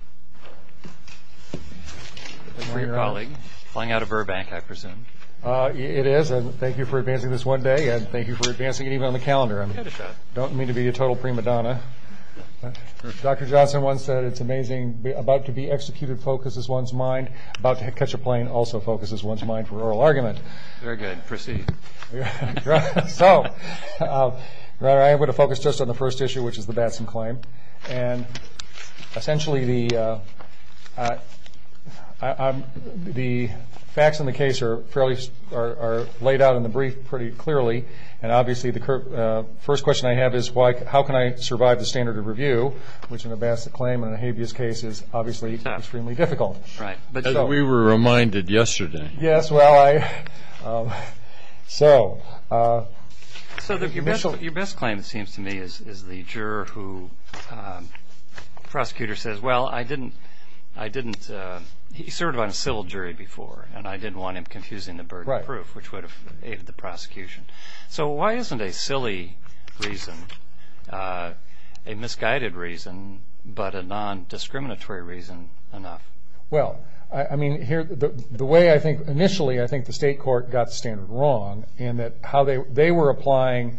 Thank you for advancing this one day, and thank you for advancing it even on the calendar. I don't mean to be a total prima donna. Dr. Johnson once said it's amazing, about to be executed focuses one's mind, about to catch a plane also focuses one's mind for oral argument. Very good. Proceed. So, I'm going to focus just on the first issue, which is the Batson claim, and essentially the facts in the case are laid out in the brief pretty clearly, and obviously the first question I have is how can I survive the standard of review, which in a Batson claim and a habeas case is obviously extremely difficult. We were reminded yesterday. Yes, well, I, so. So, your best claim it seems to me is the juror who, prosecutor says, well, I didn't, I didn't, he served on a civil jury before, and I didn't want him confusing the burden of proof, which would have aided the prosecution. So, why isn't a silly reason, a misguided reason, but a non-discriminatory reason enough? Well, I mean, here, the way I think, initially I think the state court got the standard wrong in that how they were applying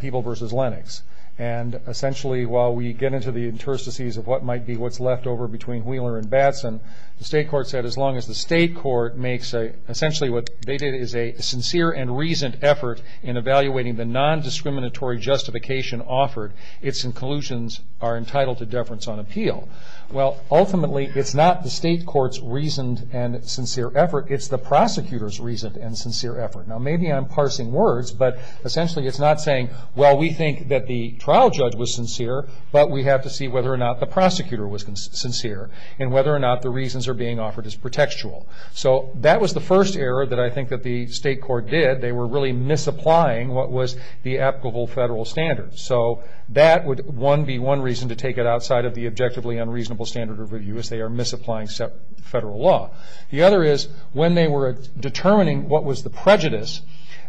people versus Lennox, and essentially while we get into the interstices of what might be what's left over between Wheeler and Batson, the state court said as long as the state court makes a, essentially what they did is a sincere and reasoned effort in evaluating the non-discriminatory justification offered, its inclusions are entitled to deference on appeal. Well, ultimately, it's not the state court's reasoned and sincere effort, it's the prosecutor's reasoned and sincere effort. Now, maybe I'm parsing words, but essentially it's not saying, well, we think that the trial judge was sincere, but we have to see whether or not the prosecutor was sincere, and whether or not the reasons are being offered as pretextual. So, that was the first error that I think that the state court did. They were really misapplying what was the applicable federal standards. So, that would, one, be one reason to take it outside of the objectively unreasonable standard of review, as they are misapplying federal law. The other is, when they were determining what was the prejudice,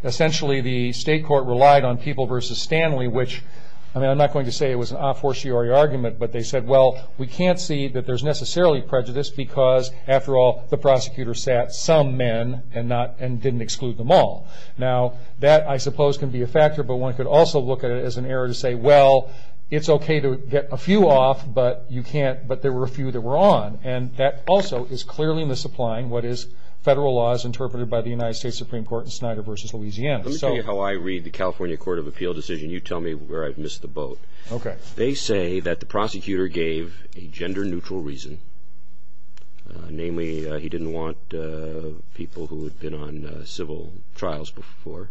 essentially the state court relied on people versus Stanley, which, I mean, I'm not going to say it was an a fortiori argument, but they said, well, we can't see that there's necessarily prejudice because, after all, the prosecutor sat some men and didn't exclude them all. Now, that, I suppose, can be a factor, but one could also look at it as an error to say, well, it's okay to get a few off, but you can't, but there were a few that were on, and that also is clearly misapplying what is federal laws interpreted by the United States Supreme Court in Snyder versus Louisiana. Let me tell you how I read the California Court of Appeal decision. You tell me where I've missed the boat. Okay. They say that the prosecutor gave a gender-neutral reason, namely he didn't want people who had been on civil trials before,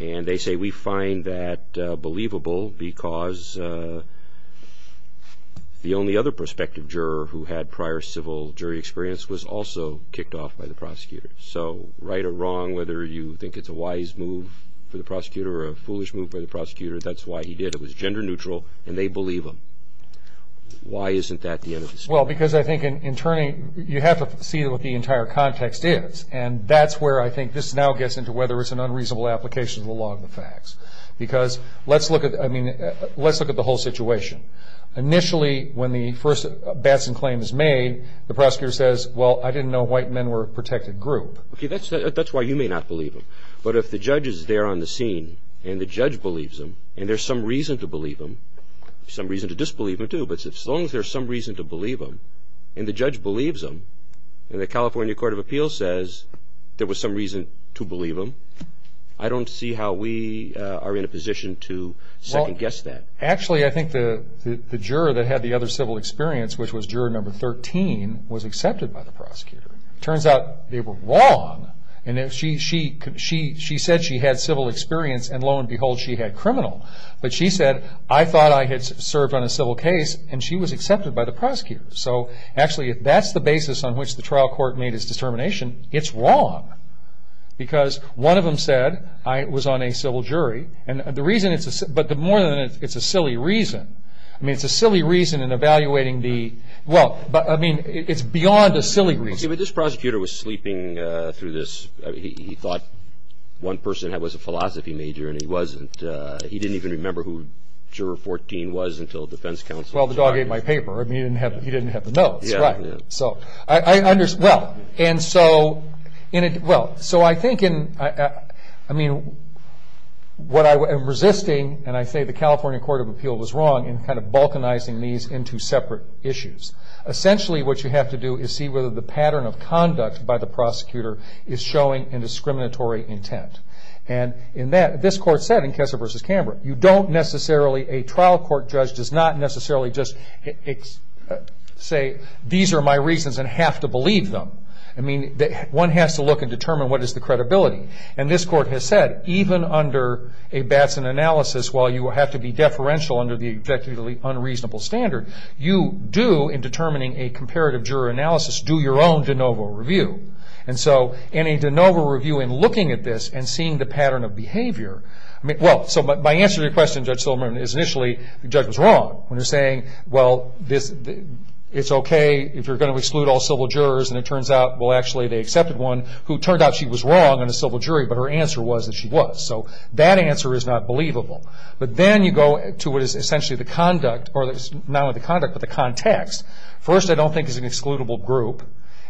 and they say we find that believable because the only other prospective juror who had prior civil jury experience was also kicked off by the prosecutor, so right or wrong, whether you think it's a wise move for the prosecutor or a foolish move by the prosecutor, that's why he did it. It was gender-neutral, and they believe him. Why isn't that the end of the story? Well, because I think in turning, you have to see what the entire context is, and that's where I think this now gets into whether it's an unreasonable application of the law of the facts, because let's look at the whole situation. Initially, when the first Batson claim is made, the prosecutor says, well, I didn't know white men were a protected group. Okay, that's why you may not believe him, but if the judge is there on the scene, and the judge believes him, and there's some reason to believe him, some reason to disbelieve him too, but as long as there's some reason to believe him, and the judge believes him, and the California Court of Appeals says there was some reason to believe him, I don't see how we are in a position to second-guess that. Actually, I think the juror that had the other civil experience, which was juror number 13, was accepted by the prosecutor. It turns out they were wrong, and she said she had civil experience, and lo and behold, she had criminal. But she said, I thought I had served on a civil case, and she was accepted by the prosecutor. So actually, if that's the basis on which the trial court made its determination, it's wrong, because one of them said, I was on a civil jury, but more than that, it's a silly reason. I mean, it's a silly reason in evaluating the, well, I mean, it's beyond a silly reason. But this prosecutor was sleeping through this. He thought one person was a philosophy major, and he wasn't. He didn't even remember who juror 14 was until defense counsel. Well, the dog ate my paper. I mean, he didn't have the notes. Right. Well, and so, well, so I think in, I mean, what I'm resisting, and I say the California Court of Appeal was wrong in kind of balkanizing these into separate issues. Essentially, what you have to do is see whether the pattern of conduct by the prosecutor is showing a discriminatory intent. And in that, this court said in Kessa v. Cambrick, you don't necessarily, a trial court judge does not necessarily just say, these are my reasons and have to believe them. I mean, one has to look and determine what is the credibility. And this court has said, even under a Batson analysis, while you have to be deferential under the objectively unreasonable standard, you do, in determining a comparative juror analysis, do your own de novo review. And so, in a de novo review, in looking at this and seeing the pattern of behavior, I mean, well, so my answer to your question, Judge Silverman, is initially the judge was wrong when he was saying, well, it's okay if you're going to exclude all civil jurors. And it turns out, well, actually, they accepted one who turned out she was wrong in a civil jury, but her answer was that she was. So that answer is not believable. But then you go to what is essentially the conduct, or not only the conduct, but the context. First, I don't think it's an excludable group.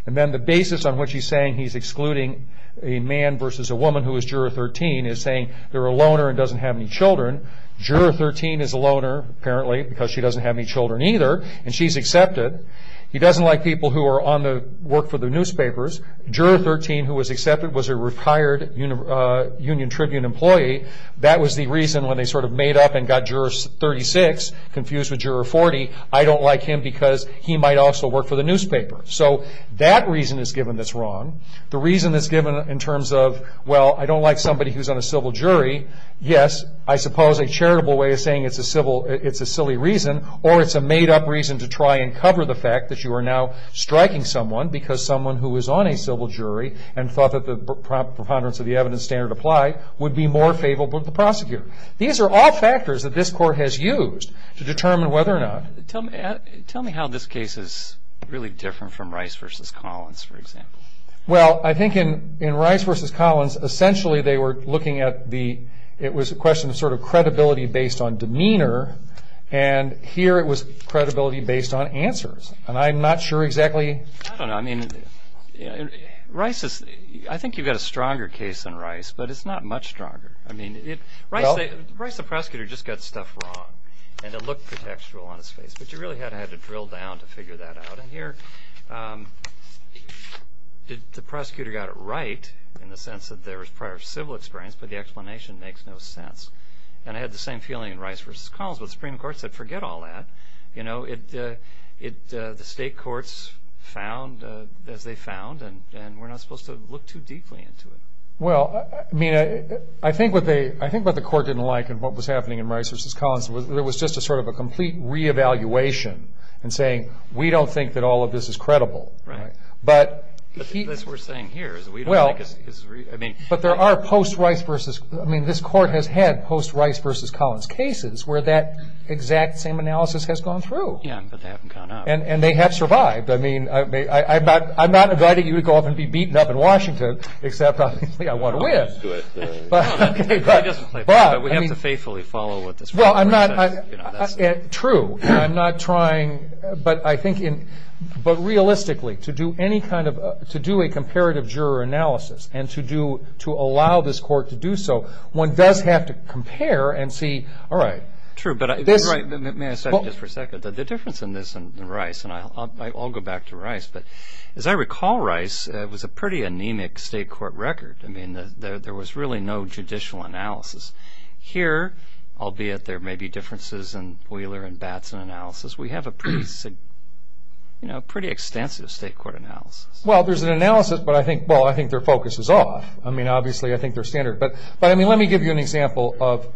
And then the basis on which he's saying he's excluding a man versus a woman who is Juror 13 is saying they're a loner and doesn't have any children. Juror 13 is a loner, apparently, because she doesn't have any children either, and she's accepted. He doesn't like people who are on the work for the newspapers. Juror 13, who was accepted, was a retired Union Tribune employee. That was the reason when they sort of made up and got Juror 36 confused with Juror 40, I don't like him because he might also work for the newspaper. So that reason is given that's wrong. The reason is given in terms of, well, I don't like somebody who's on a civil jury. Yes, I suppose a charitable way of saying it's a silly reason, or it's a made-up reason to try and cover the fact that you are now striking someone because someone who is on a civil jury and thought that the preponderance of the evidence standard applied would be more favorable to the prosecutor. These are all factors that this Court has used to determine whether or not. Tell me how this case is really different from Rice v. Collins, for example. Well, I think in Rice v. Collins, essentially they were looking at the, it was a question of sort of credibility based on demeanor, and here it was credibility based on answers, and I'm not sure exactly. I don't know. I mean, Rice is, I think you've got a stronger case than Rice, but it's not much stronger. I mean, Rice, the prosecutor, just got stuff wrong, and it looked contextual on his face, but you really had to drill down to figure that out, and here the prosecutor got it right in the sense that there was prior civil experience, but the explanation makes no sense. And I had the same feeling in Rice v. Collins when the Supreme Court said forget all that. You know, the state courts found as they found, and we're not supposed to look too deeply into it. Well, I mean, I think what the court didn't like in what was happening in Rice v. Collins, it was just a sort of a complete re-evaluation in saying we don't think that all of this is credible. Right. But this we're saying here is we don't think it's, I mean. But there are post-Rice v. I mean, this court has had post-Rice v. Collins cases where that exact same analysis has gone through. Yeah, but they haven't gone out. And they have survived. I mean, I'm not inviting you to go off and be beaten up in Washington, except obviously I want to win. But we have to faithfully follow what the Supreme Court says. True. I'm not trying, but I think realistically to do any kind of, to do a comparative juror analysis and to allow this court to do so, one does have to compare and see, all right. True, but you're right. May I say just for a second that the difference in this and Rice, and I'll go back to Rice, but as I recall, Rice was a pretty anemic state court record. I mean, there was really no judicial analysis. Here, albeit there may be differences in Wheeler and Batson analysis, we have a pretty extensive state court analysis. Well, there's an analysis, but I think, well, I think their focus is off. I mean, obviously I think they're standard. But, I mean, let me give you an example of,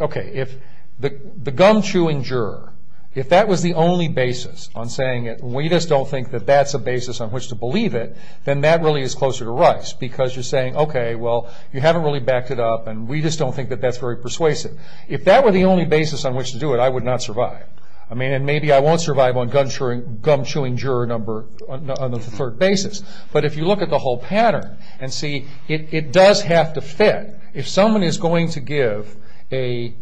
okay. If the gum chewing juror, if that was the only basis on saying it and we just don't think that that's a basis on which to believe it, then that really is closer to Rice because you're saying, okay, well, you haven't really backed it up and we just don't think that that's very persuasive. If that were the only basis on which to do it, I would not survive. I mean, and maybe I won't survive on gum chewing juror number on the third basis. But if you look at the whole pattern and see it does have to fit. If someone is going to give a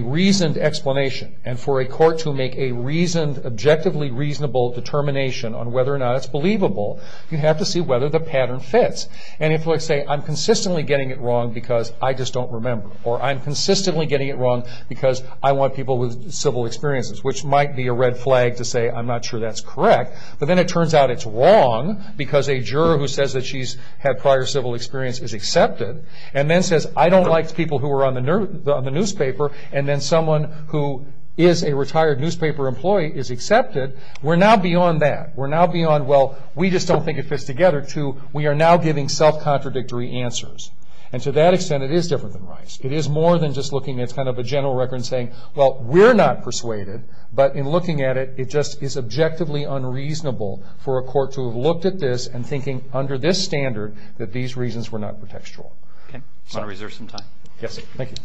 reasoned explanation and for a court to make a reasoned, objectively reasonable determination on whether or not it's believable, you have to see whether the pattern fits. And if they say, I'm consistently getting it wrong because I just don't remember or I'm consistently getting it wrong because I want people with civil experiences, which might be a red flag to say I'm not sure that's correct. But then it turns out it's wrong because a juror who says that she's had prior civil experience is accepted and then says I don't like people who are on the newspaper and then someone who is a retired newspaper employee is accepted. We're now beyond that. We're now beyond, well, we just don't think it fits together to we are now giving self-contradictory answers. And to that extent, it is different than Rice. It is more than just looking at kind of a general record and saying, well, we're not persuaded, but in looking at it, it just is objectively unreasonable for a court to have looked at this and thinking under this standard that these reasons were not contextual. I want to reserve some time. Yes. Thank you.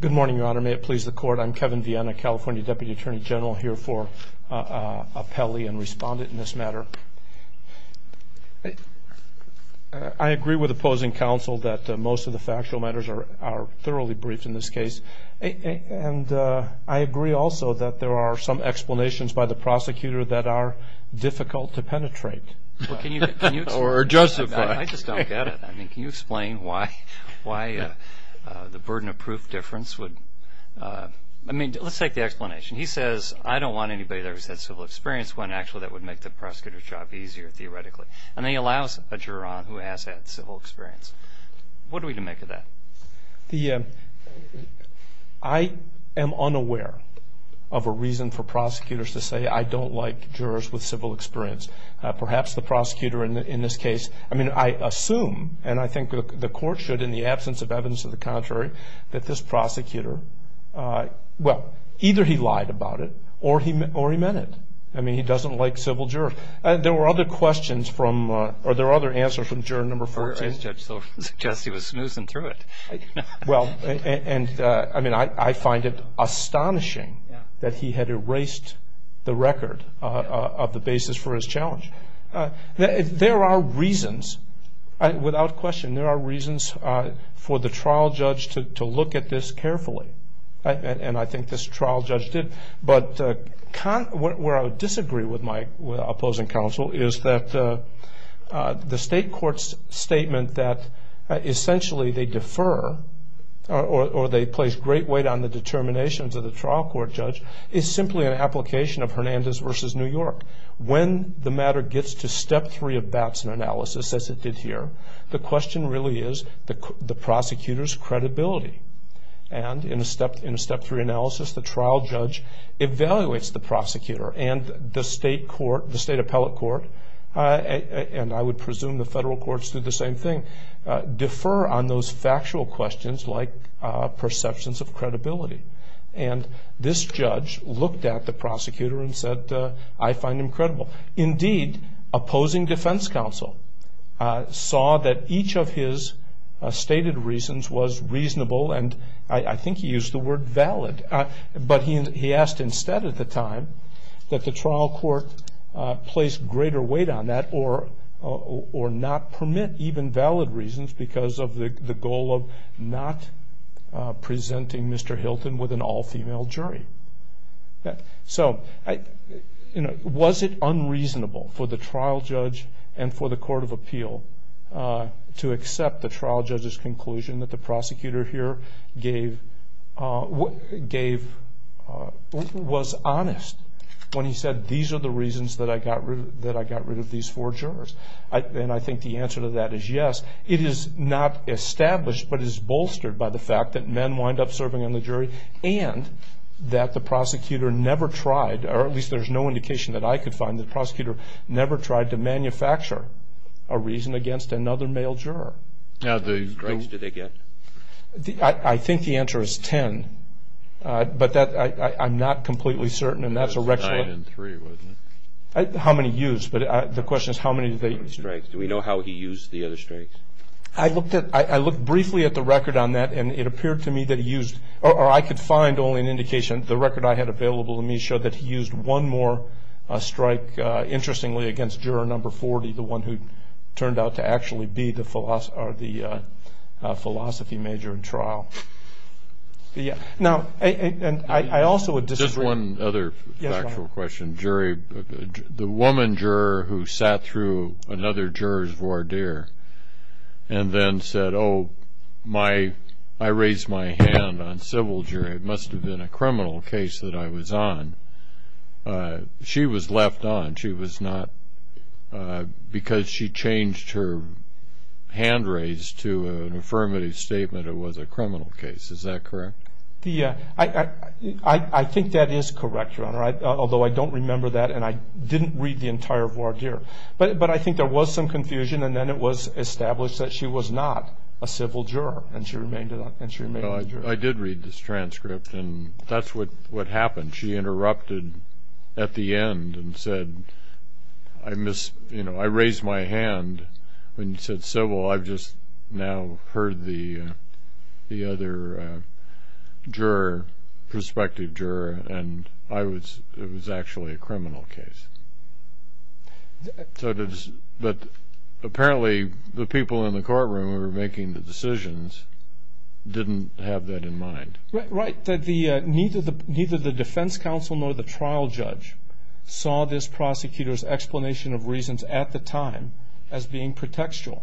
Good morning, Your Honor. May it please the Court. I'm Kevin Viena, California Deputy Attorney General, here for appellee and respondent in this matter. Your Honor, I agree with opposing counsel that most of the factual matters are thoroughly briefed in this case. And I agree also that there are some explanations by the prosecutor that are difficult to penetrate. Or justify. I just don't get it. I mean, can you explain why the burden of proof difference would, I mean, let's take the explanation. He says I don't want anybody there who's had civil experience when actually that would make the prosecutor's job easier, theoretically. And then he allows a juror on who has had civil experience. What are we to make of that? I am unaware of a reason for prosecutors to say, I don't like jurors with civil experience. Perhaps the prosecutor in this case, I mean, I assume, and I think the Court should in the absence of evidence of the contrary, that this prosecutor, well, either he lied about it or he meant it. I mean, he doesn't like civil jurors. There were other questions from, or there were other answers from juror number 14. I suggest he was snoozing through it. Well, and I mean, I find it astonishing that he had erased the record of the basis for his challenge. There are reasons, without question, there are reasons for the trial judge to look at this carefully. And I think this trial judge did. But where I would disagree with my opposing counsel is that the state court's statement that essentially they defer or they place great weight on the determinations of the trial court judge is simply an application of Hernandez v. New York. When the matter gets to step three of Batson analysis, as it did here, the question really is the prosecutor's credibility. And in a step three analysis, the trial judge evaluates the prosecutor and the state court, the state appellate court, and I would presume the federal courts do the same thing, defer on those factual questions like perceptions of credibility. And this judge looked at the prosecutor and said, I find him credible. Indeed, opposing defense counsel saw that each of his stated reasons was reasonable and I think he used the word valid. But he asked instead at the time that the trial court place greater weight on that or not permit even valid reasons because of the goal of not presenting Mr. Hilton with an all-female jury. So was it unreasonable for the trial judge and for the court of appeal to accept the trial judge's conclusion that the prosecutor here was honest when he said these are the reasons that I got rid of these four jurors? And I think the answer to that is yes. It is not established but is bolstered by the fact that men wind up serving on the jury and that the prosecutor never tried, or at least there's no indication that I could find, that the prosecutor never tried to manufacture a reason against another male juror. How many strikes did they get? I think the answer is ten, but I'm not completely certain and that's a record. Nine and three, wasn't it? How many used, but the question is how many did they use? How many strikes? Do we know how he used the other strikes? I looked briefly at the record on that and it appeared to me that he used, or I could find only an indication. The record I had available to me showed that he used one more strike, interestingly, against juror number 40, the one who turned out to actually be the philosophy major in trial. Now, I also would disagree. Just one other factual question. The woman juror who sat through another juror's voir dire and then said, so I raised my hand on civil jury. It must have been a criminal case that I was on. She was left on. She was not, because she changed her hand raise to an affirmative statement, it was a criminal case. Is that correct? I think that is correct, Your Honor, although I don't remember that and I didn't read the entire voir dire. But I think there was some confusion and then it was established that she was not a civil juror and she remained a juror. I did read this transcript and that's what happened. She interrupted at the end and said, I raised my hand when you said civil. I've just now heard the other juror, prospective juror, and it was actually a criminal case. But apparently the people in the courtroom who were making the decisions didn't have that in mind. Right. Neither the defense counsel nor the trial judge saw this prosecutor's explanation of reasons at the time as being pretextual.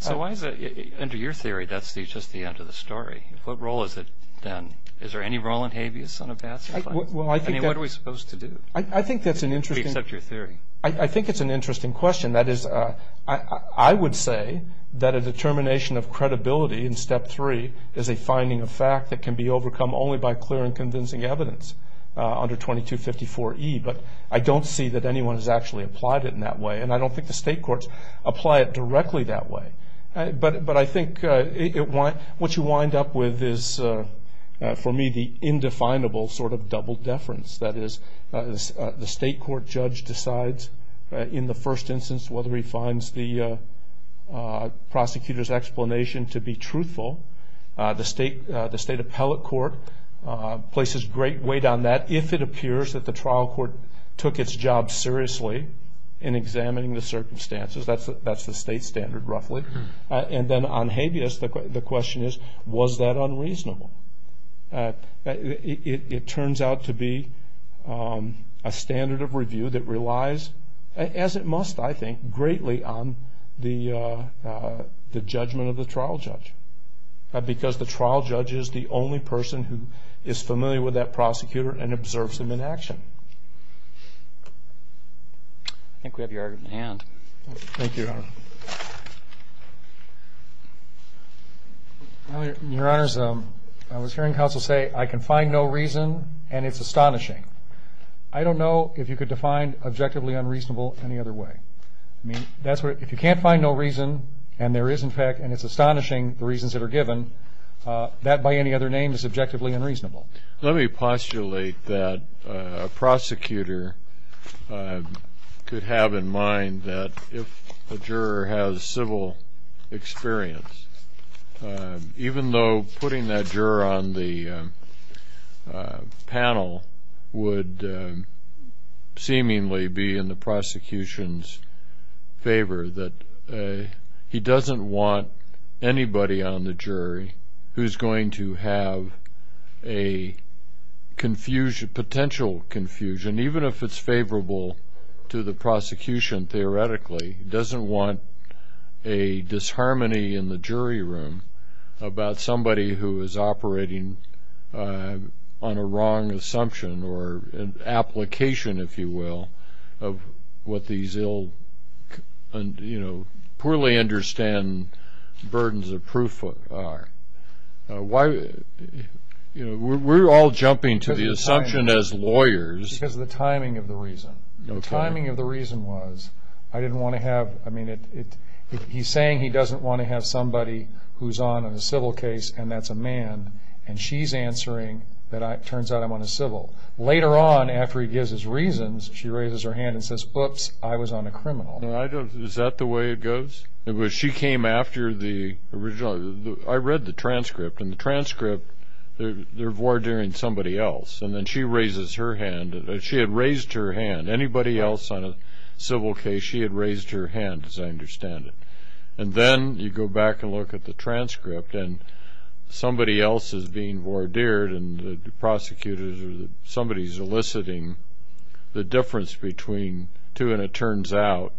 So under your theory, that's just the end of the story. What role is it then? Is there any role in habeas son of bats? I mean, what are we supposed to do? I think that's an interesting question. I think it's an interesting question. That is, I would say that a determination of credibility in Step 3 is a finding of fact that can be overcome only by clear and convincing evidence under 2254E. But I don't see that anyone has actually applied it in that way, and I don't think the state courts apply it directly that way. But I think what you wind up with is, for me, the indefinable sort of double deference. That is, the state court judge decides in the first instance whether he finds the prosecutor's explanation to be truthful. The state appellate court places great weight on that if it appears that the trial court took its job seriously in examining the circumstances. That's the state standard, roughly. And then on habeas, the question is, was that unreasonable? It turns out to be a standard of review that relies, as it must, I think, greatly on the judgment of the trial judge because the trial judge is the only person who is familiar with that prosecutor and observes him in action. I think we have your argument at hand. Thank you, Your Honor. Your Honor, I was hearing counsel say, I can find no reason and it's astonishing. I don't know if you could define objectively unreasonable any other way. I mean, if you can't find no reason and there is, in fact, and it's astonishing the reasons that are given, that by any other name is objectively unreasonable. Let me postulate that a prosecutor could have in mind that if a juror has civil experience, even though putting that juror on the panel would seemingly be in the prosecution's favor, somebody who is going to have a potential confusion, even if it's favorable to the prosecution theoretically, doesn't want a disharmony in the jury room about somebody who is operating on a wrong assumption or an application, if you will, of what these poorly understand burdens of proof are. We're all jumping to the assumption as lawyers. Because of the timing of the reason. The timing of the reason was, I didn't want to have, I mean, he's saying he doesn't want to have somebody who's on a civil case and that's a man, and she's answering that it turns out I'm on a civil. Later on, after he gives his reasons, she raises her hand and says, oops, I was on a criminal. Is that the way it goes? She came after the original, I read the transcript, and the transcript, they're voir direing somebody else, and then she raises her hand, she had raised her hand, anybody else on a civil case, she had raised her hand, as I understand it. And then you go back and look at the transcript and somebody else is being voir dired and the prosecutor or somebody is eliciting the difference between two, and it turns out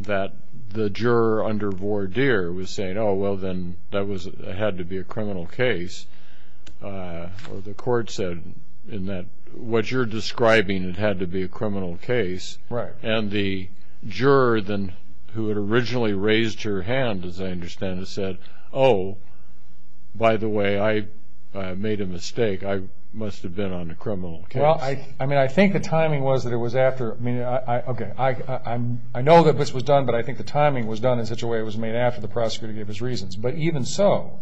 that the juror under voir dire was saying, oh, well, then that had to be a criminal case. The court said, what you're describing, it had to be a criminal case. And the juror who had originally raised her hand, as I understand it, said, oh, by the way, I made a mistake, I must have been on a criminal case. Well, I mean, I think the timing was that it was after, I mean, okay, I know that this was done, but I think the timing was done in such a way it was made after the prosecutor gave his reasons. But even so,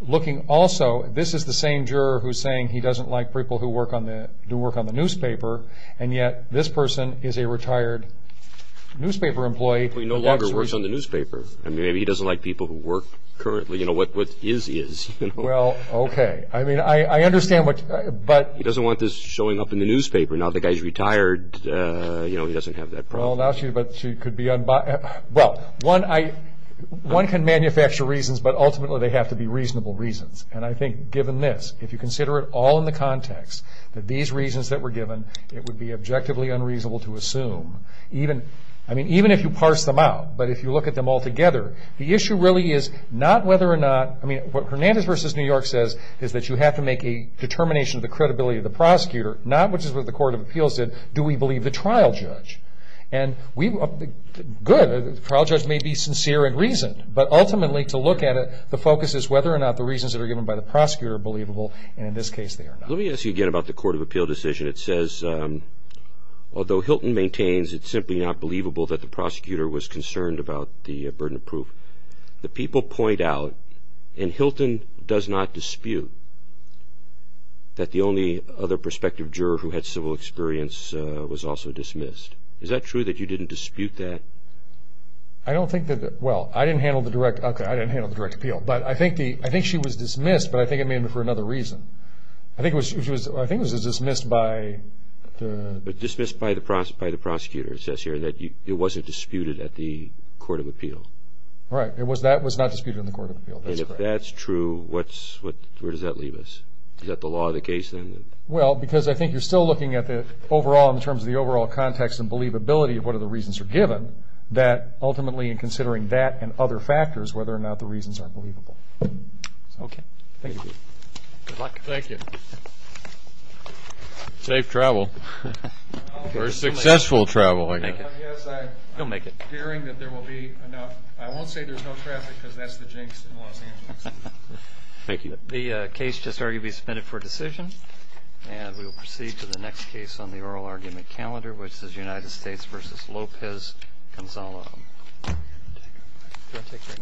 looking also, this is the same juror who's saying he doesn't like people who work on the newspaper, and yet this person is a retired newspaper employee. He no longer works on the newspaper. I mean, maybe he doesn't like people who work currently. You know, what is, is. Well, okay. I mean, I understand what, but. He doesn't want this showing up in the newspaper. Now the guy's retired, you know, he doesn't have that problem. Well, now she could be, well, one can manufacture reasons, but ultimately they have to be reasonable reasons. And I think given this, if you consider it all in the context that these reasons that were given, it would be objectively unreasonable to assume. I mean, even if you parse them out, but if you look at them all together, the issue really is not whether or not, I mean, what Hernandez v. New York says is that you have to make a determination of the credibility of the prosecutor, not, which is what the Court of Appeals did, do we believe the trial judge. And we, good, the trial judge may be sincere and reasoned, but ultimately to look at it, the focus is whether or not the reasons that are given by the prosecutor are believable, and in this case they are not. Let me ask you again about the Court of Appeal decision. It says, although Hilton maintains it's simply not believable that the prosecutor was concerned about the burden of proof, the people point out, and Hilton does not dispute, that the only other prospective juror who had civil experience was also dismissed. Is that true, that you didn't dispute that? I don't think that, well, I didn't handle the direct, okay, I didn't handle the direct appeal, but I think she was dismissed, but I think it may have been for another reason. I think it was dismissed by the... Dismissed by the prosecutor, it says here, that it wasn't disputed at the Court of Appeal. Right, that was not disputed in the Court of Appeal, that's correct. And if that's true, where does that leave us? Is that the law of the case then? Well, because I think you're still looking at the overall, in terms of the overall context and believability of what are the reasons are given, that ultimately in considering that and other factors, whether or not the reasons are believable. Okay. Thank you. Good luck. Thank you. Safe travel. Or successful travel, I guess. He'll make it. I'm fearing that there will be enough... I won't say there's no traffic, because that's the jinx in Los Angeles. Thank you. The case just arguably submitted for decision, and we will proceed to the next case on the oral argument calendar, which is United States v. Lopez-Gonzalo. Do I take that now?